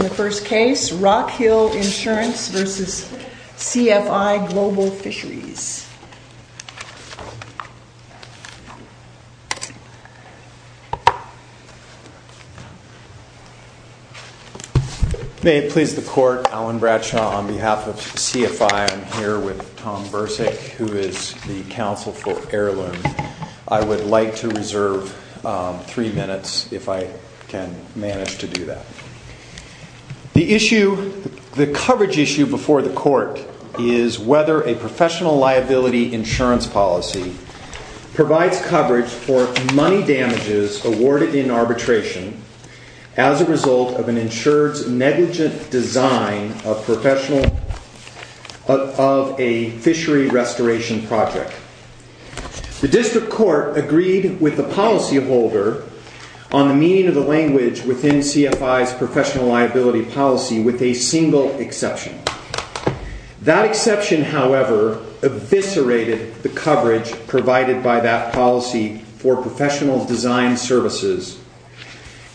In the first case, Rockhill Insurance v. CFI-Global Fisheries. May it please the court, Alan Bradshaw on behalf of CFI. I'm here with Tom Bursick, who is the counsel for heirloom. I would like to reserve three minutes if I can manage to do that. The issue, the coverage issue before the court is whether a professional liability insurance policy provides coverage for money damages awarded in arbitration as a result of an insured's negligent design of professional, of a fishery restoration project. The district court agreed with the policyholder on the meaning of the language within CFI's professional liability policy with a single exception. That exception, however, eviscerated the coverage provided by that policy for professional design services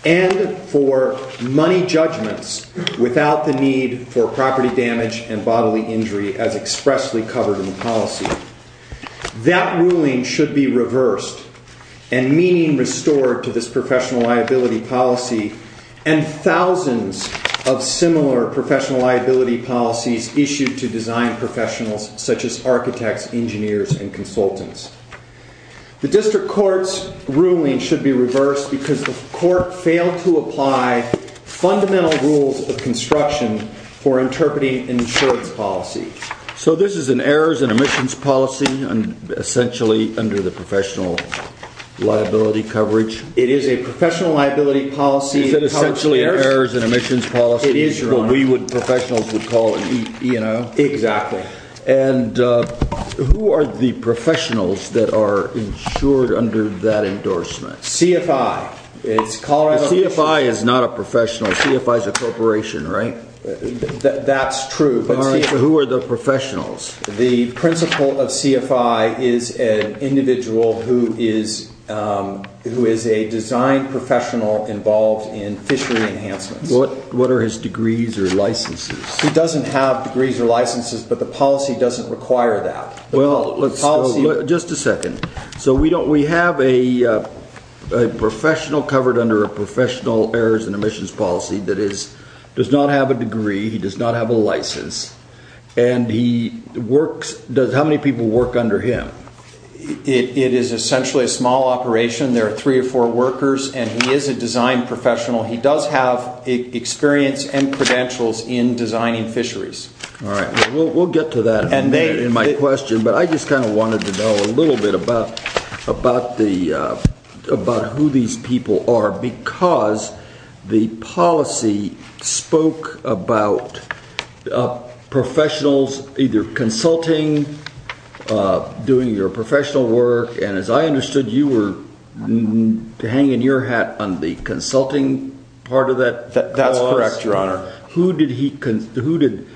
and for money judgments without the need for property damage and bodily injury as expressly covered in the policy. That ruling should be reversed and meaning restored to this professional liability policy and thousands of similar professional liability policies issued to design professionals such as architects, engineers, and consultants. The district court's ruling should be reversed because the court failed to apply fundamental rules of construction for interpreting an insurance policy. So this is an errors and omissions policy, essentially under the professional liability coverage? It is a professional liability policy. Is it essentially an errors and omissions policy? It is what we professionals would call an E&O. Exactly. And who are the professionals that are insured under that endorsement? CFI. CFI is not a professional. CFI is a corporation, right? That's true. Who are the professionals? The principal of CFI is an individual who is a design professional involved in fishery enhancements. What are his degrees or licenses? He doesn't have degrees or licenses, but the policy doesn't require that. Just a second. So we have a professional covered under a professional errors and omissions policy that does not have a degree, he does not have a license, and how many people work under him? It is essentially a small operation. There are three or four workers, and he is a design professional. He does have experience and credentials in designing fisheries. All right. We'll get to that in my question, but I just kind of wanted to know a little bit about who these people are because the policy spoke about professionals either consulting, doing their professional work, and as I understood, you were hanging your hat on the consulting part of that? That's correct, Your Honor. Who did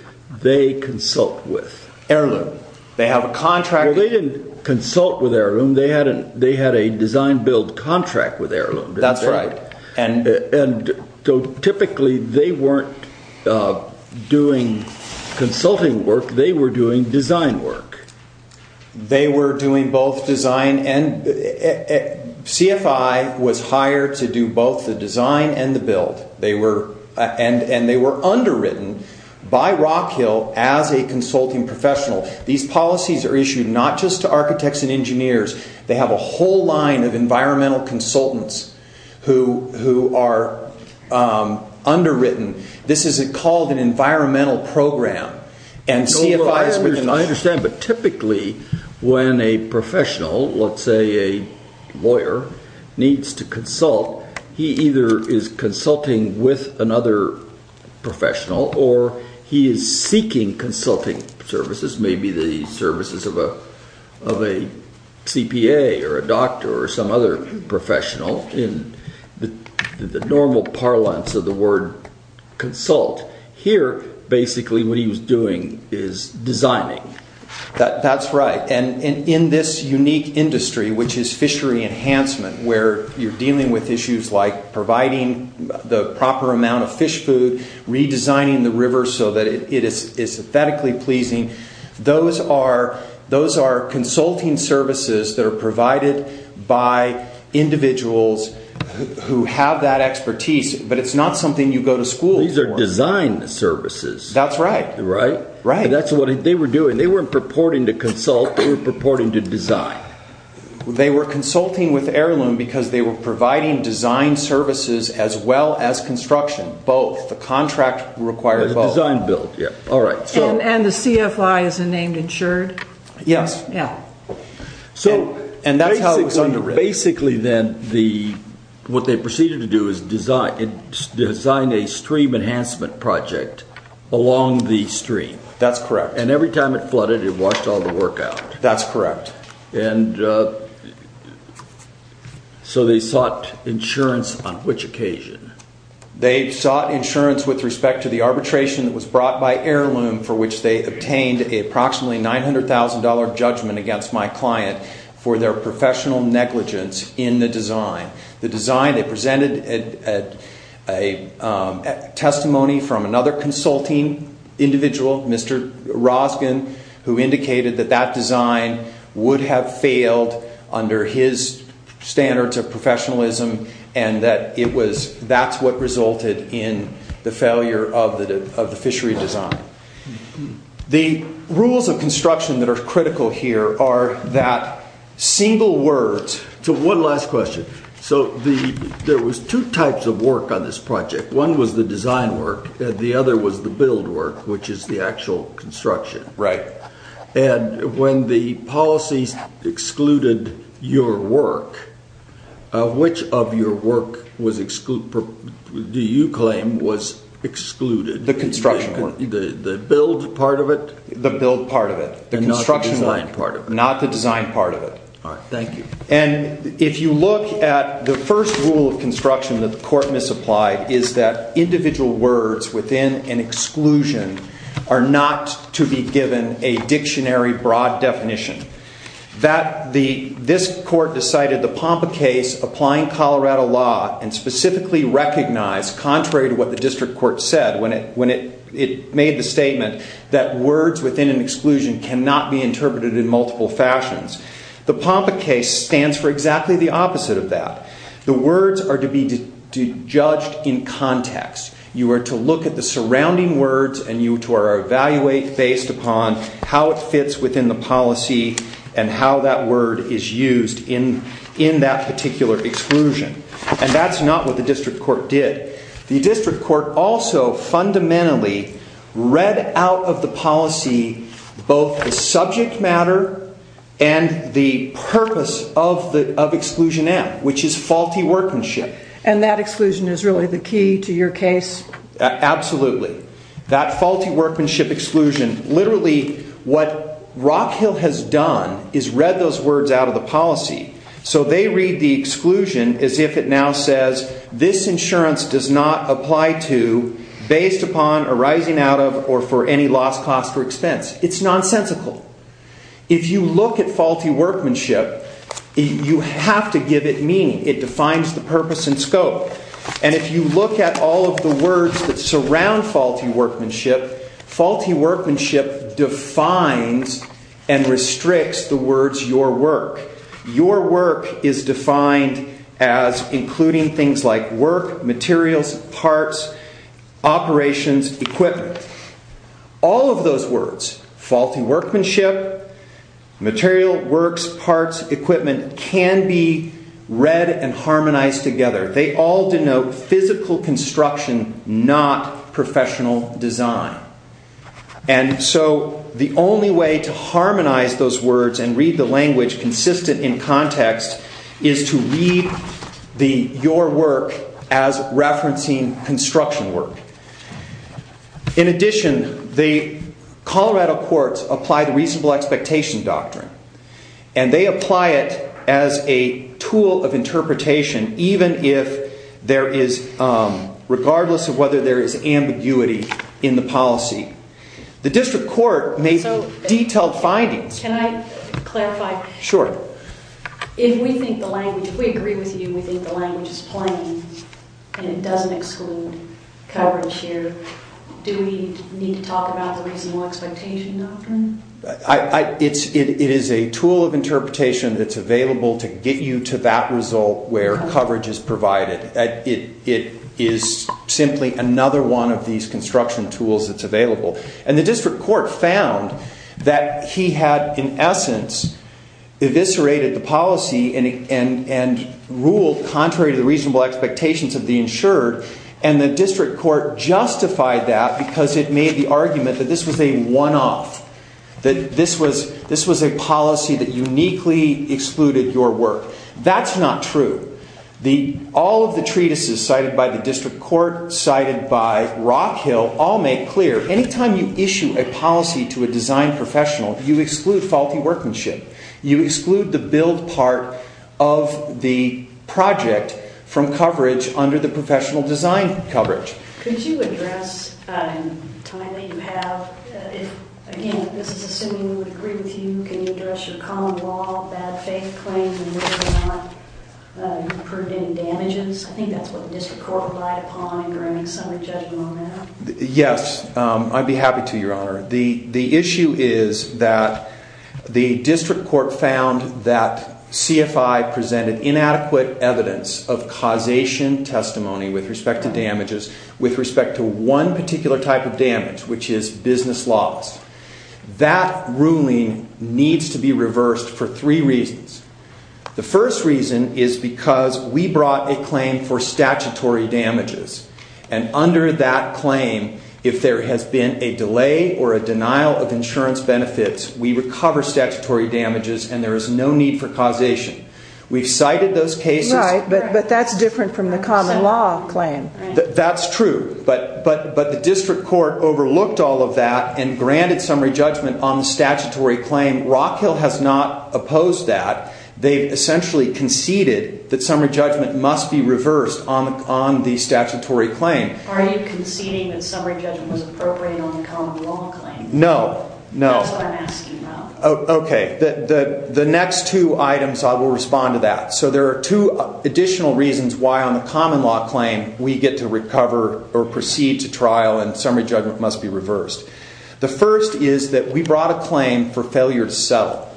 they consult with? Heirloom. They have a contract. Well, they didn't consult with Heirloom. They had a design-build contract with Heirloom. That's right. And so typically, they weren't doing consulting work. They were doing design work. They were doing both design and CFI was hired to do both the design and the build. And they were underwritten by Rockhill as a consulting professional. These policies are issued not just to architects and engineers. They have a whole line of environmental consultants who are underwritten. This is called an environmental program. I understand, but typically when a professional, let's say a lawyer, needs to consult, he either is consulting with another professional or he is seeking consulting services, maybe the services of a CPA or a doctor or some other professional in the normal parlance of the word consult. Here, basically, what he was doing is designing. That's right. And in this unique industry, which is fishery enhancement, where you're dealing with issues like providing the proper amount of fish food, redesigning the river so that it is synthetically pleasing, those are consulting services that are provided by individuals who have that expertise. But it's not something you go to school for. These are design services. That's right. Right? Right. That's what they were doing. They weren't purporting to consult. They were purporting to design. They were consulting with Heirloom because they were providing design services as well as construction. Both. The contract required both. The design build, yeah. All right. And the CFI is named insured? Yes. Yeah. And that's how it was underwritten. Basically, then, what they proceeded to do is design a stream enhancement project along the stream. That's correct. And every time it flooded, it washed all the work out. That's correct. And so they sought insurance on which occasion? They sought insurance with respect to the arbitration that was brought by Heirloom for which they obtained approximately $900,000 judgment against my client for their professional negligence in the design. The design, they presented a testimony from another consulting individual, Mr. Roskin, who indicated that that design would have failed under his standards of professionalism and that it was, that's what resulted in the failure of the fishery design. The rules of construction that are critical here are that single word. One last question. So there was two types of work on this project. One was the design work. The other was the build work, which is the actual construction. Right. And when the policies excluded your work, which of your work do you claim was excluded? The construction work. The build part of it? The build part of it. The construction work. And not the design part of it? Not the design part of it. All right. Thank you. And if you look at the first rule of construction that the court misapplied is that individual words within an exclusion are not to be given a dictionary broad definition. This court decided the Pompa case applying Colorado law and specifically recognized, contrary to what the district court said when it made the statement that words within an exclusion cannot be interpreted in multiple fashions. The Pompa case stands for exactly the opposite of that. The words are to be judged in context. You are to look at the surrounding words and you are to evaluate based upon how it fits within the policy and how that word is used in that particular exclusion. And that's not what the district court did. The district court also fundamentally read out of the policy both the subject matter and the purpose of exclusion M, which is faulty workmanship. And that exclusion is really the key to your case? Absolutely. That faulty workmanship exclusion, literally what Rock Hill has done is read those words out of the policy. So they read the exclusion as if it now says this insurance does not apply to based upon arising out of or for any lost cost or expense. It's nonsensical. If you look at faulty workmanship, you have to give it meaning. It defines the purpose and scope. And if you look at all of the words that surround faulty workmanship, faulty workmanship defines and restricts the words your work. Your work is defined as including things like work, materials, parts, operations, equipment. All of those words, faulty workmanship, material, works, parts, equipment can be read and harmonized together. They all denote physical construction, not professional design. And so the only way to harmonize those words and read the language consistent in context is to read your work as referencing construction work. In addition, the Colorado courts apply the reasonable expectation doctrine. And they apply it as a tool of interpretation even if there is, regardless of whether there is ambiguity in the policy. The district court makes detailed findings. Can I clarify? Sure. If we agree with you and we think the language is plain and it doesn't exclude coverage here, do we need to talk about the reasonable expectation doctrine? It is a tool of interpretation that's available to get you to that result where coverage is provided. It is simply another one of these construction tools that's available. And the district court found that he had, in essence, eviscerated the policy and ruled contrary to the reasonable expectations of the insured. And the district court justified that because it made the argument that this was a one-off. That this was a policy that uniquely excluded your work. That's not true. All of the treatises cited by the district court, cited by Rockhill, all make clear that any time you issue a policy to a design professional, you exclude faulty workmanship. You exclude the build part of the project from coverage under the professional design coverage. Could you address, in time that you have, again, this is assuming we would agree with you. Can you address your common law, bad faith claims, and whether or not you've incurred any damages? I think that's what the district court relied upon. Are there any summary judgments on that? Yes. I'd be happy to, Your Honor. The issue is that the district court found that CFI presented inadequate evidence of causation testimony with respect to damages. With respect to one particular type of damage, which is business laws. That ruling needs to be reversed for three reasons. The first reason is because we brought a claim for statutory damages. And under that claim, if there has been a delay or a denial of insurance benefits, we recover statutory damages and there is no need for causation. We've cited those cases. Right, but that's different from the common law claim. That's true. But the district court overlooked all of that and granted summary judgment on the statutory claim. Rockhill has not opposed that. They've essentially conceded that summary judgment must be reversed on the statutory claim. Are you conceding that summary judgment was appropriate on the common law claim? No. That's what I'm asking about. Okay. The next two items, I will respond to that. So there are two additional reasons why on the common law claim we get to recover or proceed to trial and summary judgment must be reversed. The first is that we brought a claim for failure to settle.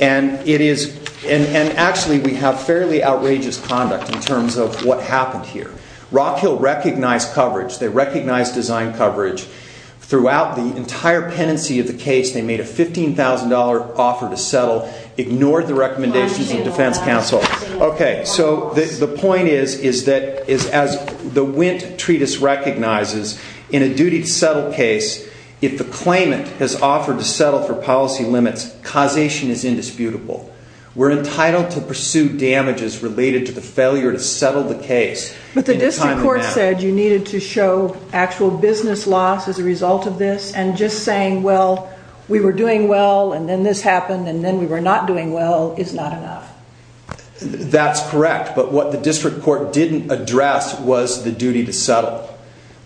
And actually we have fairly outrageous conduct in terms of what happened here. Rockhill recognized design coverage throughout the entire pendency of the case. They made a $15,000 offer to settle, ignored the recommendations of defense counsel. Okay, so the point is that as the Wint Treatise recognizes, in a duty to settle case, if the claimant has offered to settle for policy limits, causation is indisputable. We're entitled to pursue damages related to the failure to settle the case. But the district court said you needed to show actual business loss as a result of this. And just saying, well, we were doing well and then this happened and then we were not doing well is not enough. That's correct. But what the district court didn't address was the duty to settle.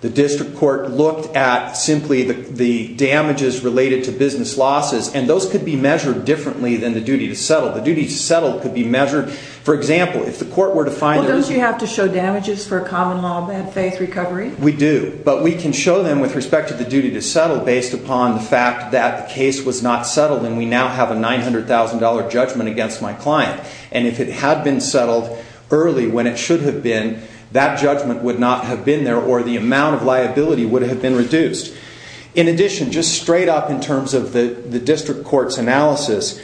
The district court looked at simply the damages related to business losses. And those could be measured differently than the duty to settle. The duty to settle could be measured, for example, if the court were to find... Well, don't you have to show damages for a common law bad faith recovery? We do. But we can show them with respect to the duty to settle based upon the fact that the case was not settled and we now have a $900,000 judgment against my client. And if it had been settled early when it should have been, that judgment would not have been there or the amount of liability would have been reduced. In addition, just straight up in terms of the district court's analysis,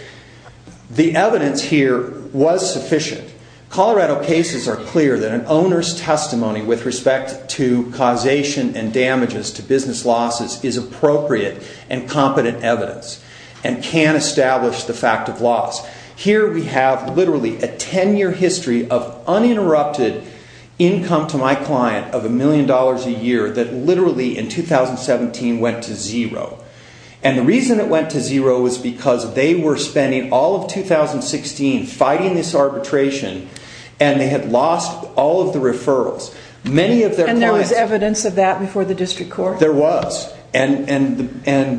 the evidence here was sufficient. Colorado cases are clear that an owner's testimony with respect to causation and damages to business losses is appropriate and competent evidence and can establish the fact of loss. Here we have literally a 10-year history of uninterrupted income to my client of a million dollars a year that literally in 2017 went to zero. And the reason it went to zero was because they were spending all of 2016 fighting this arbitration and they had lost all of the referrals. And there was evidence of that before the district court? There was. And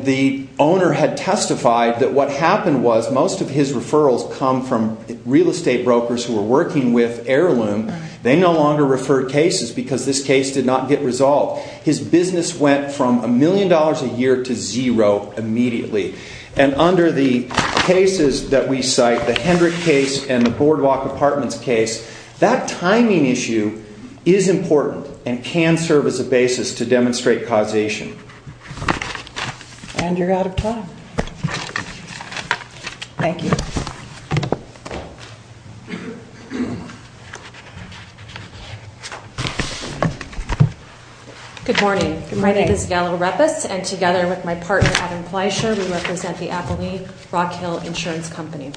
the owner had testified that what happened was most of his referrals come from real estate brokers who were working with heirloom. They no longer referred cases because this case did not get resolved. His business went from a million dollars a year to zero immediately. And under the cases that we cite, the Hendrick case and the Boardwalk Apartments case, that timing issue is important and can serve as a basis to demonstrate causation. And you're out of time. Thank you. Good morning. My name is Gala Reppes and together with my partner, Adam Fleischer, we represent the Appleby Rockhill Insurance Company.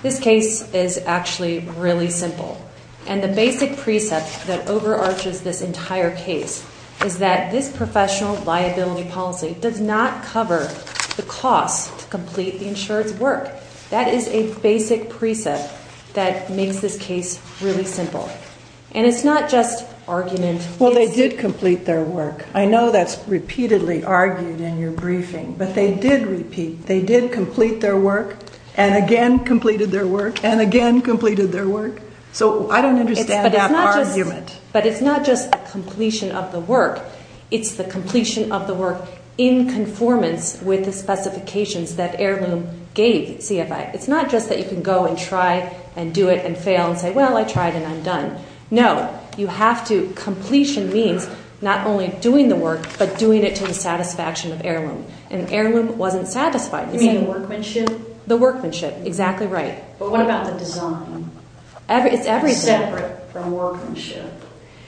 This case is actually really simple. And the basic precept that overarches this entire case is that this professional liability policy does not cover the cost to complete the insurance work. That is a basic precept that makes this case really simple. And it's not just argument. Well, they did complete their work. I know that's repeatedly argued in your briefing. But they did repeat. They did complete their work and again completed their work and again completed their work. So I don't understand that argument. But it's not just the completion of the work. It's the completion of the work in conformance with the specifications that heirloom gave CFI. It's not just that you can go and try and do it and fail and say, well, I tried and I'm done. No, you have to. Completion means not only doing the work but doing it to the satisfaction of heirloom. And heirloom wasn't satisfied. You mean the workmanship? The workmanship. Exactly right. But what about the design? It's everything. Separate from workmanship.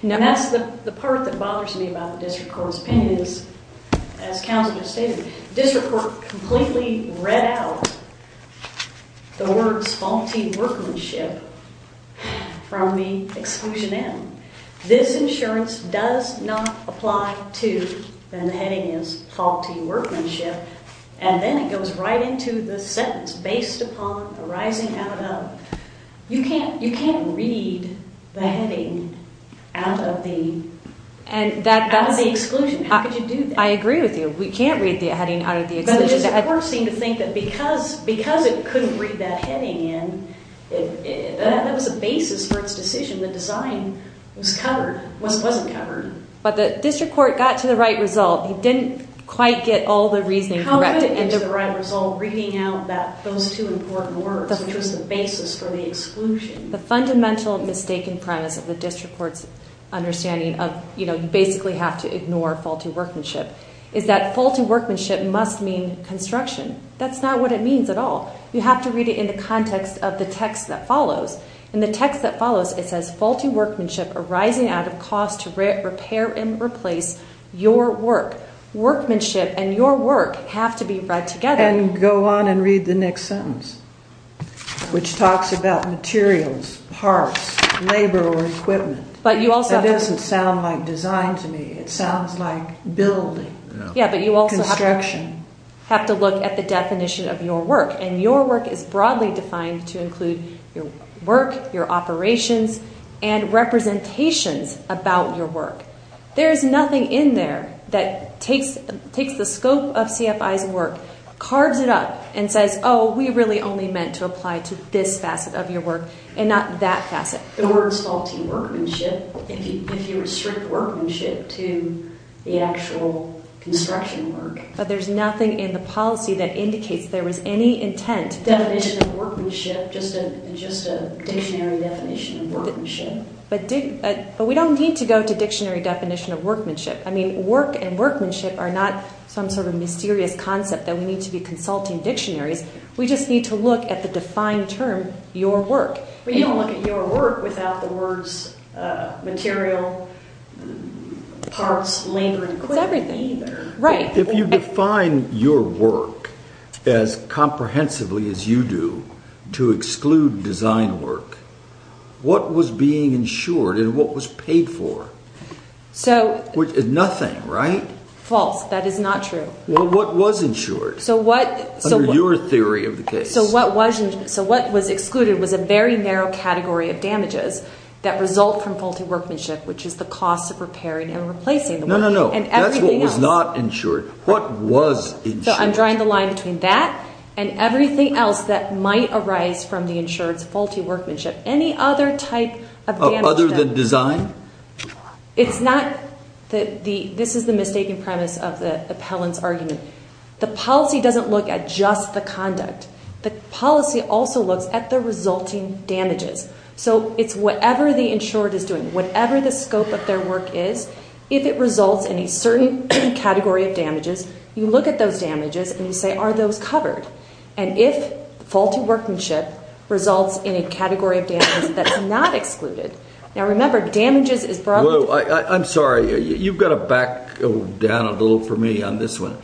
And that's the part that bothers me about the district court's opinion is, as counsel just stated, district court completely read out the words faulty workmanship from the exclusion M. This insurance does not apply to, and the heading is, faulty workmanship. And then it goes right into the sentence, based upon the rising out of. You can't read the heading out of the exclusion. How could you do that? I agree with you. We can't read the heading out of the exclusion. But the district court seemed to think that because it couldn't read that heading in, that was a basis for its decision. The design was covered. It wasn't covered. But the district court got to the right result. It didn't quite get all the reasoning correct. Reading out those two important words, which was the basis for the exclusion. The fundamental mistaken premise of the district court's understanding of, you know, you basically have to ignore faulty workmanship, is that faulty workmanship must mean construction. That's not what it means at all. You have to read it in the context of the text that follows. In the text that follows, it says, faulty workmanship arising out of cost to repair and replace your work. Workmanship and your work have to be read together. And go on and read the next sentence, which talks about materials, parts, labor, or equipment. That doesn't sound like design to me. It sounds like building. Yeah, but you also have to look at the definition of your work. And your work is broadly defined to include your work, your operations, and representations about your work. There is nothing in there that takes the scope of CFI's work, carves it up, and says, oh, we really only meant to apply to this facet of your work and not that facet. The words faulty workmanship, if you restrict workmanship to the actual construction work. But there's nothing in the policy that indicates there was any intent. Definition of workmanship, just a dictionary definition of workmanship. But we don't need to go to dictionary definition of workmanship. I mean, work and workmanship are not some sort of mysterious concept that we need to be consulting dictionaries. We just need to look at the defined term, your work. But you don't look at your work without the words material, parts, labor, and equipment. It's everything. Right. If you define your work as comprehensively as you do to exclude design work, what was being insured and what was paid for? Which is nothing, right? False. That is not true. Well, what was insured? Under your theory of the case. So what was excluded was a very narrow category of damages that result from faulty workmanship, which is the cost of repairing and replacing the work. No, no, no. That's what was not insured. What was insured? So I'm drawing the line between that and everything else that might arise from the insured's faulty workmanship. Any other type of damage? Other than design? It's not. This is the mistaken premise of the appellant's argument. The policy doesn't look at just the conduct. The policy also looks at the resulting damages. So it's whatever the insured is doing, whatever the scope of their work is, if it results in a certain category of damages, you look at those damages and you say, are those covered? And if faulty workmanship results in a category of damages that's not excluded. Now, remember, damages is brought up. I'm sorry. You've got to back down a little for me on this one.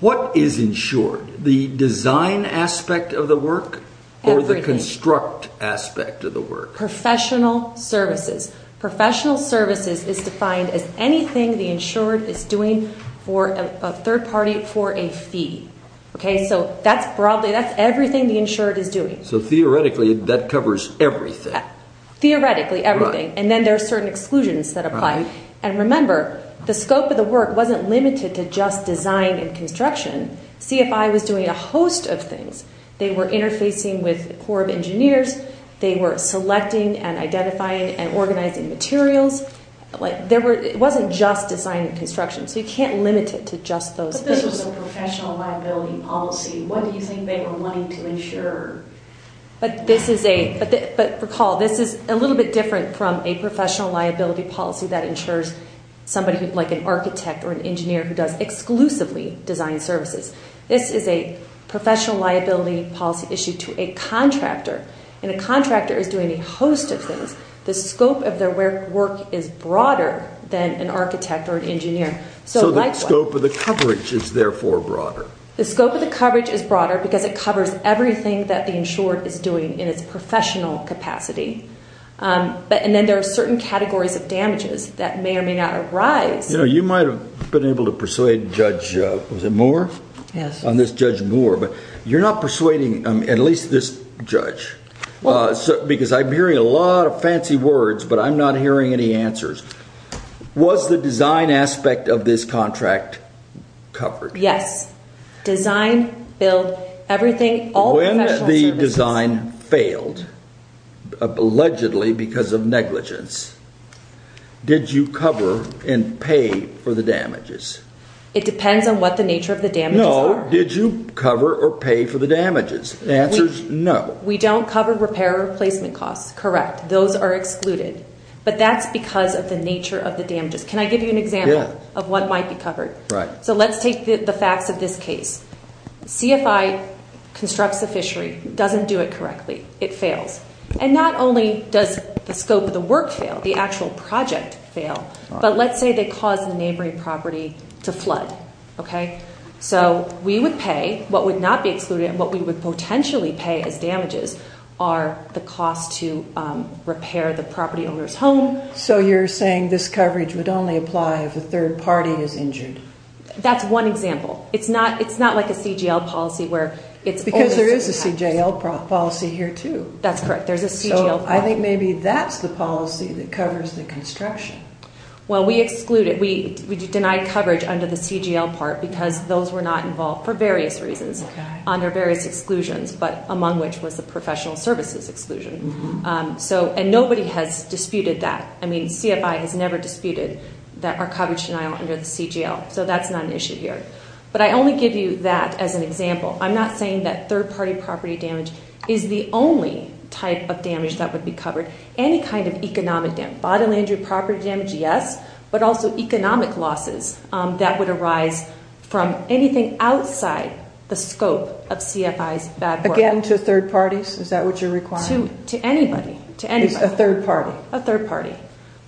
What is insured? The design aspect of the work or the construct aspect of the work? Professional services. Professional services is defined as anything the insured is doing for a third party for a fee. So that's everything the insured is doing. So theoretically, that covers everything. Theoretically, everything. And then there are certain exclusions that apply. And remember, the scope of the work wasn't limited to just design and construction. CFI was doing a host of things. They were interfacing with the Corps of Engineers. They were selecting and identifying and organizing materials. It wasn't just design and construction. So you can't limit it to just those things. But this was a professional liability policy. What do you think they were wanting to insure? But recall, this is a little bit different from a professional liability policy that insures somebody like an architect or an engineer who does exclusively design services. This is a professional liability policy issued to a contractor. And a contractor is doing a host of things. The scope of their work is broader than an architect or an engineer. So the scope of the coverage is therefore broader. The scope of the coverage is broader because it covers everything that the insured is doing in its professional capacity. And then there are certain categories of damages that may or may not arise. You know, you might have been able to persuade Judge Moore, on this Judge Moore. But you're not persuading at least this judge. Because I'm hearing a lot of fancy words, but I'm not hearing any answers. Was the design aspect of this contract covered? Yes. Design, build, everything. When the design failed, allegedly because of negligence, did you cover and pay for the damages? It depends on what the nature of the damages are. No. Did you cover or pay for the damages? The answer is no. We don't cover repair or replacement costs. Correct. Those are excluded. But that's because of the nature of the damages. Can I give you an example of what might be covered? Right. So let's take the facts of this case. CFI constructs a fishery, doesn't do it correctly. It fails. And not only does the scope of the work fail, the actual project fail. But let's say they cause the neighboring property to flood. Okay? So we would pay what would not be excluded and what we would potentially pay as damages are the cost to repair the property owner's home. So you're saying this coverage would only apply if a third party is injured? That's one example. It's not like a CGL policy where it's only certain types. Because there is a CGL policy here, too. That's correct. There's a CGL policy. So I think maybe that's the policy that covers the construction. Well, we exclude it. We deny coverage under the CGL part because those were not involved for various reasons under various exclusions, but among which was the professional services exclusion. And nobody has disputed that. I mean, CFI has never disputed that our coverage denial under the CGL. So that's not an issue here. But I only give you that as an example. I'm not saying that third-party property damage is the only type of damage that would be covered. Any kind of economic damage, bodily injury, property damage, yes, but also economic losses that would arise from anything outside the scope of CFI's bad work. Again, to third parties? Is that what you're requiring? To anybody. Just a third party? A third party.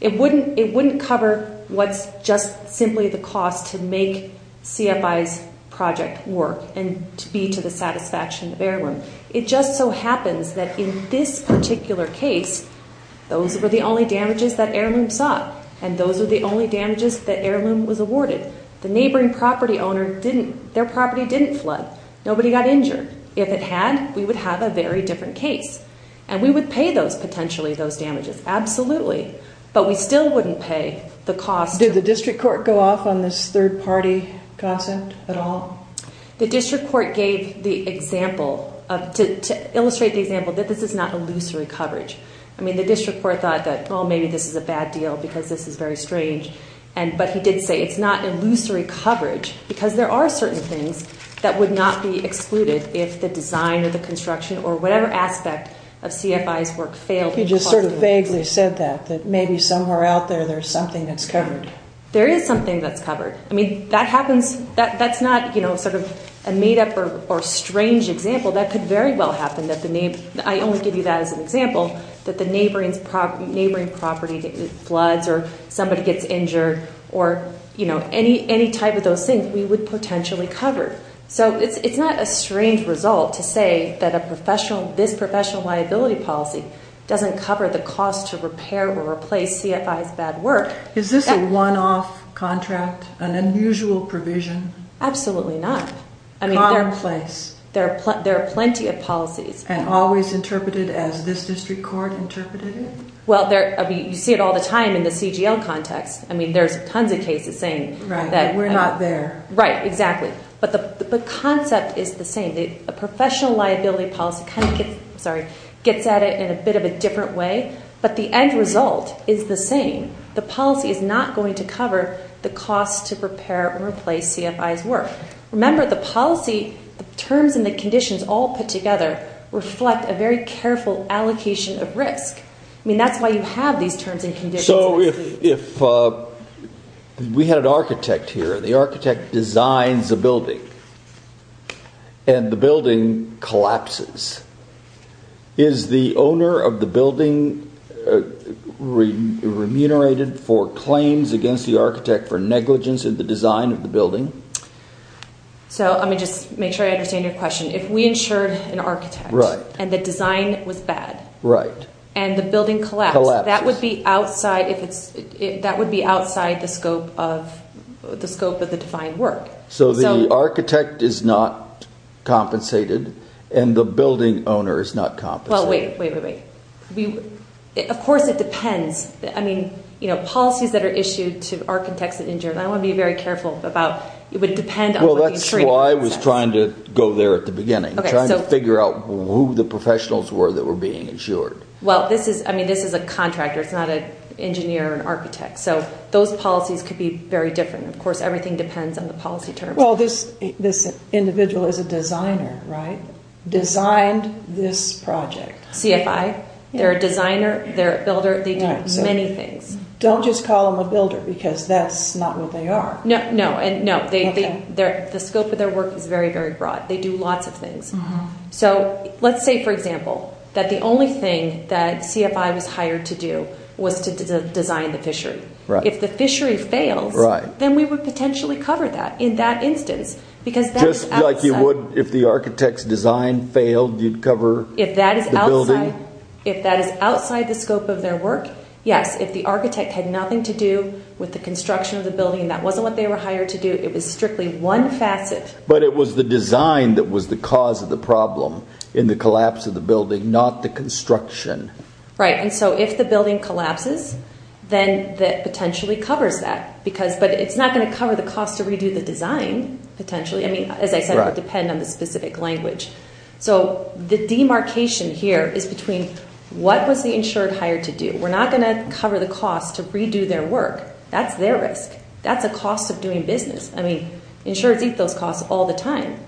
It wouldn't cover what's just simply the cost to make CFI's project work and to be to the satisfaction of Heirloom. It just so happens that in this particular case, those were the only damages that Heirloom saw. And those were the only damages that Heirloom was awarded. The neighboring property owner, their property didn't flood. Nobody got injured. If it had, we would have a very different case. And we would pay those, potentially, those damages. Absolutely. But we still wouldn't pay the cost. Did the district court go off on this third-party concept at all? The district court gave the example, to illustrate the example, that this is not illusory coverage. I mean, the district court thought that, well, maybe this is a bad deal because this is very strange. But he did say it's not illusory coverage because there are certain things that would not be excluded if the design or the construction or whatever aspect of CFI's work failed. You just sort of vaguely said that, that maybe somewhere out there there's something that's covered. There is something that's covered. I mean, that happens. That's not, you know, sort of a made-up or strange example. I only give you that as an example, that the neighboring property floods or somebody gets injured or, you know, any type of those things we would potentially cover. So it's not a strange result to say that this professional liability policy doesn't cover the cost to repair or replace CFI's bad work. Is this a one-off contract, an unusual provision? Absolutely not. Commonplace. There are plenty of policies. And always interpreted as this district court interpreted it? Well, you see it all the time in the CGL context. I mean, there's tons of cases saying that. Right, that we're not there. Right, exactly. But the concept is the same. The professional liability policy kind of gets at it in a bit of a different way, but the end result is the same. The policy is not going to cover the cost to prepare or replace CFI's work. Remember, the policy terms and the conditions all put together reflect a very careful allocation of risk. I mean, that's why you have these terms and conditions. So if we had an architect here and the architect designs a building and the building collapses, is the owner of the building remunerated for claims against the architect for negligence in the design of the building? So let me just make sure I understand your question. If we insured an architect and the design was bad and the building collapsed, that would be outside the scope of the defined work. So the architect is not compensated and the building owner is not compensated. Well, wait, wait, wait, wait. Of course it depends. I mean, policies that are issued to architects and insurers, I want to be very careful about, it would depend on what the insurer says. Well, that's why I was trying to go there at the beginning, trying to figure out who the professionals were that were being insured. Well, I mean, this is a contractor. It's not an engineer or an architect. So those policies could be very different. Of course, everything depends on the policy terms. Well, this individual is a designer, right, designed this project. CFI. They're a designer. They're a builder. They do many things. Don't just call them a builder because that's not what they are. No, no. And no, the scope of their work is very, very broad. They do lots of things. So let's say, for example, that the only thing that CFI was hired to do was to design the fishery. If the fishery fails, then we would potentially cover that in that instance because that is outside. Just like you would if the architect's design failed, you'd cover the building? If that is outside the scope of their work, yes. If the architect had nothing to do with the construction of the building, that wasn't what they were hired to do. It was strictly one facet. But it was the design that was the cause of the problem in the collapse of the building, not the construction. Right, and so if the building collapses, then that potentially covers that. But it's not going to cover the cost to redo the design, potentially. I mean, as I said, it would depend on the specific language. So the demarcation here is between what was the insured hired to do. We're not going to cover the cost to redo their work. That's their risk. That's the cost of doing business. I mean, insurers eat those costs all the time.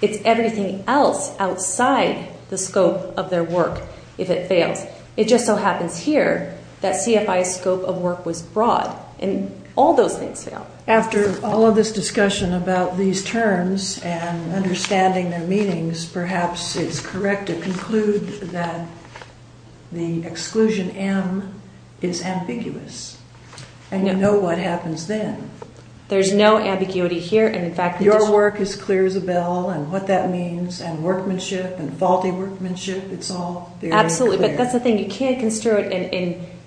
It's everything else outside the scope of their work if it fails. It just so happens here that CFI's scope of work was broad, and all those things fail. After all of this discussion about these terms and understanding their meanings, perhaps it's correct to conclude that the exclusion M is ambiguous. And you know what happens then. There's no ambiguity here. Your work is clear as a bell, and what that means, and workmanship, and faulty workmanship. It's all very clear. Absolutely, but that's the thing. You can't construe it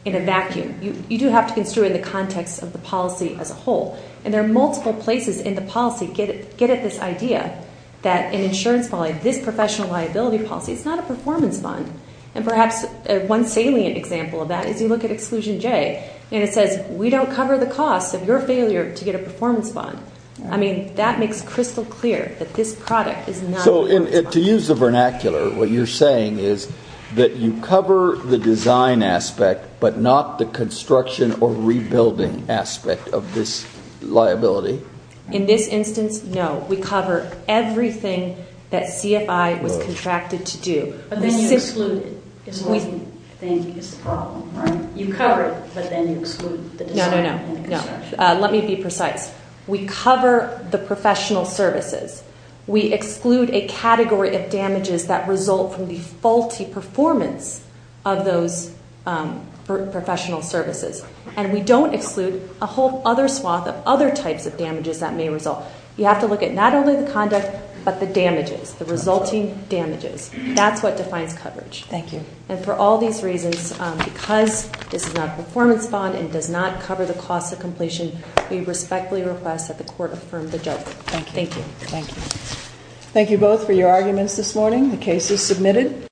in a vacuum. You do have to construe it in the context of the policy as a whole. And there are multiple places in the policy. Get at this idea that an insurance policy, this professional liability policy, is not a performance fund. And perhaps one salient example of that is you look at Exclusion J, and it says we don't cover the costs of your failure to get a performance fund. I mean, that makes crystal clear that this product is not a performance fund. So to use the vernacular, what you're saying is that you cover the design aspect, but not the construction or rebuilding aspect of this liability? In this instance, no. We cover everything that CFI was contracted to do. But then you exclude it. You cover it, but then you exclude the design and construction. No, no, no. Let me be precise. We cover the professional services. We exclude a category of damages that result from the faulty performance of those professional services. And we don't exclude a whole other swath of other types of damages that may result. You have to look at not only the conduct, but the damages, the resulting damages. That's what defines coverage. Thank you. And for all these reasons, because this is not a performance fund and does not cover the cost of completion, we respectfully request that the Court affirm the judgment. Thank you. Thank you. Thank you both for your arguments this morning. The case is submitted.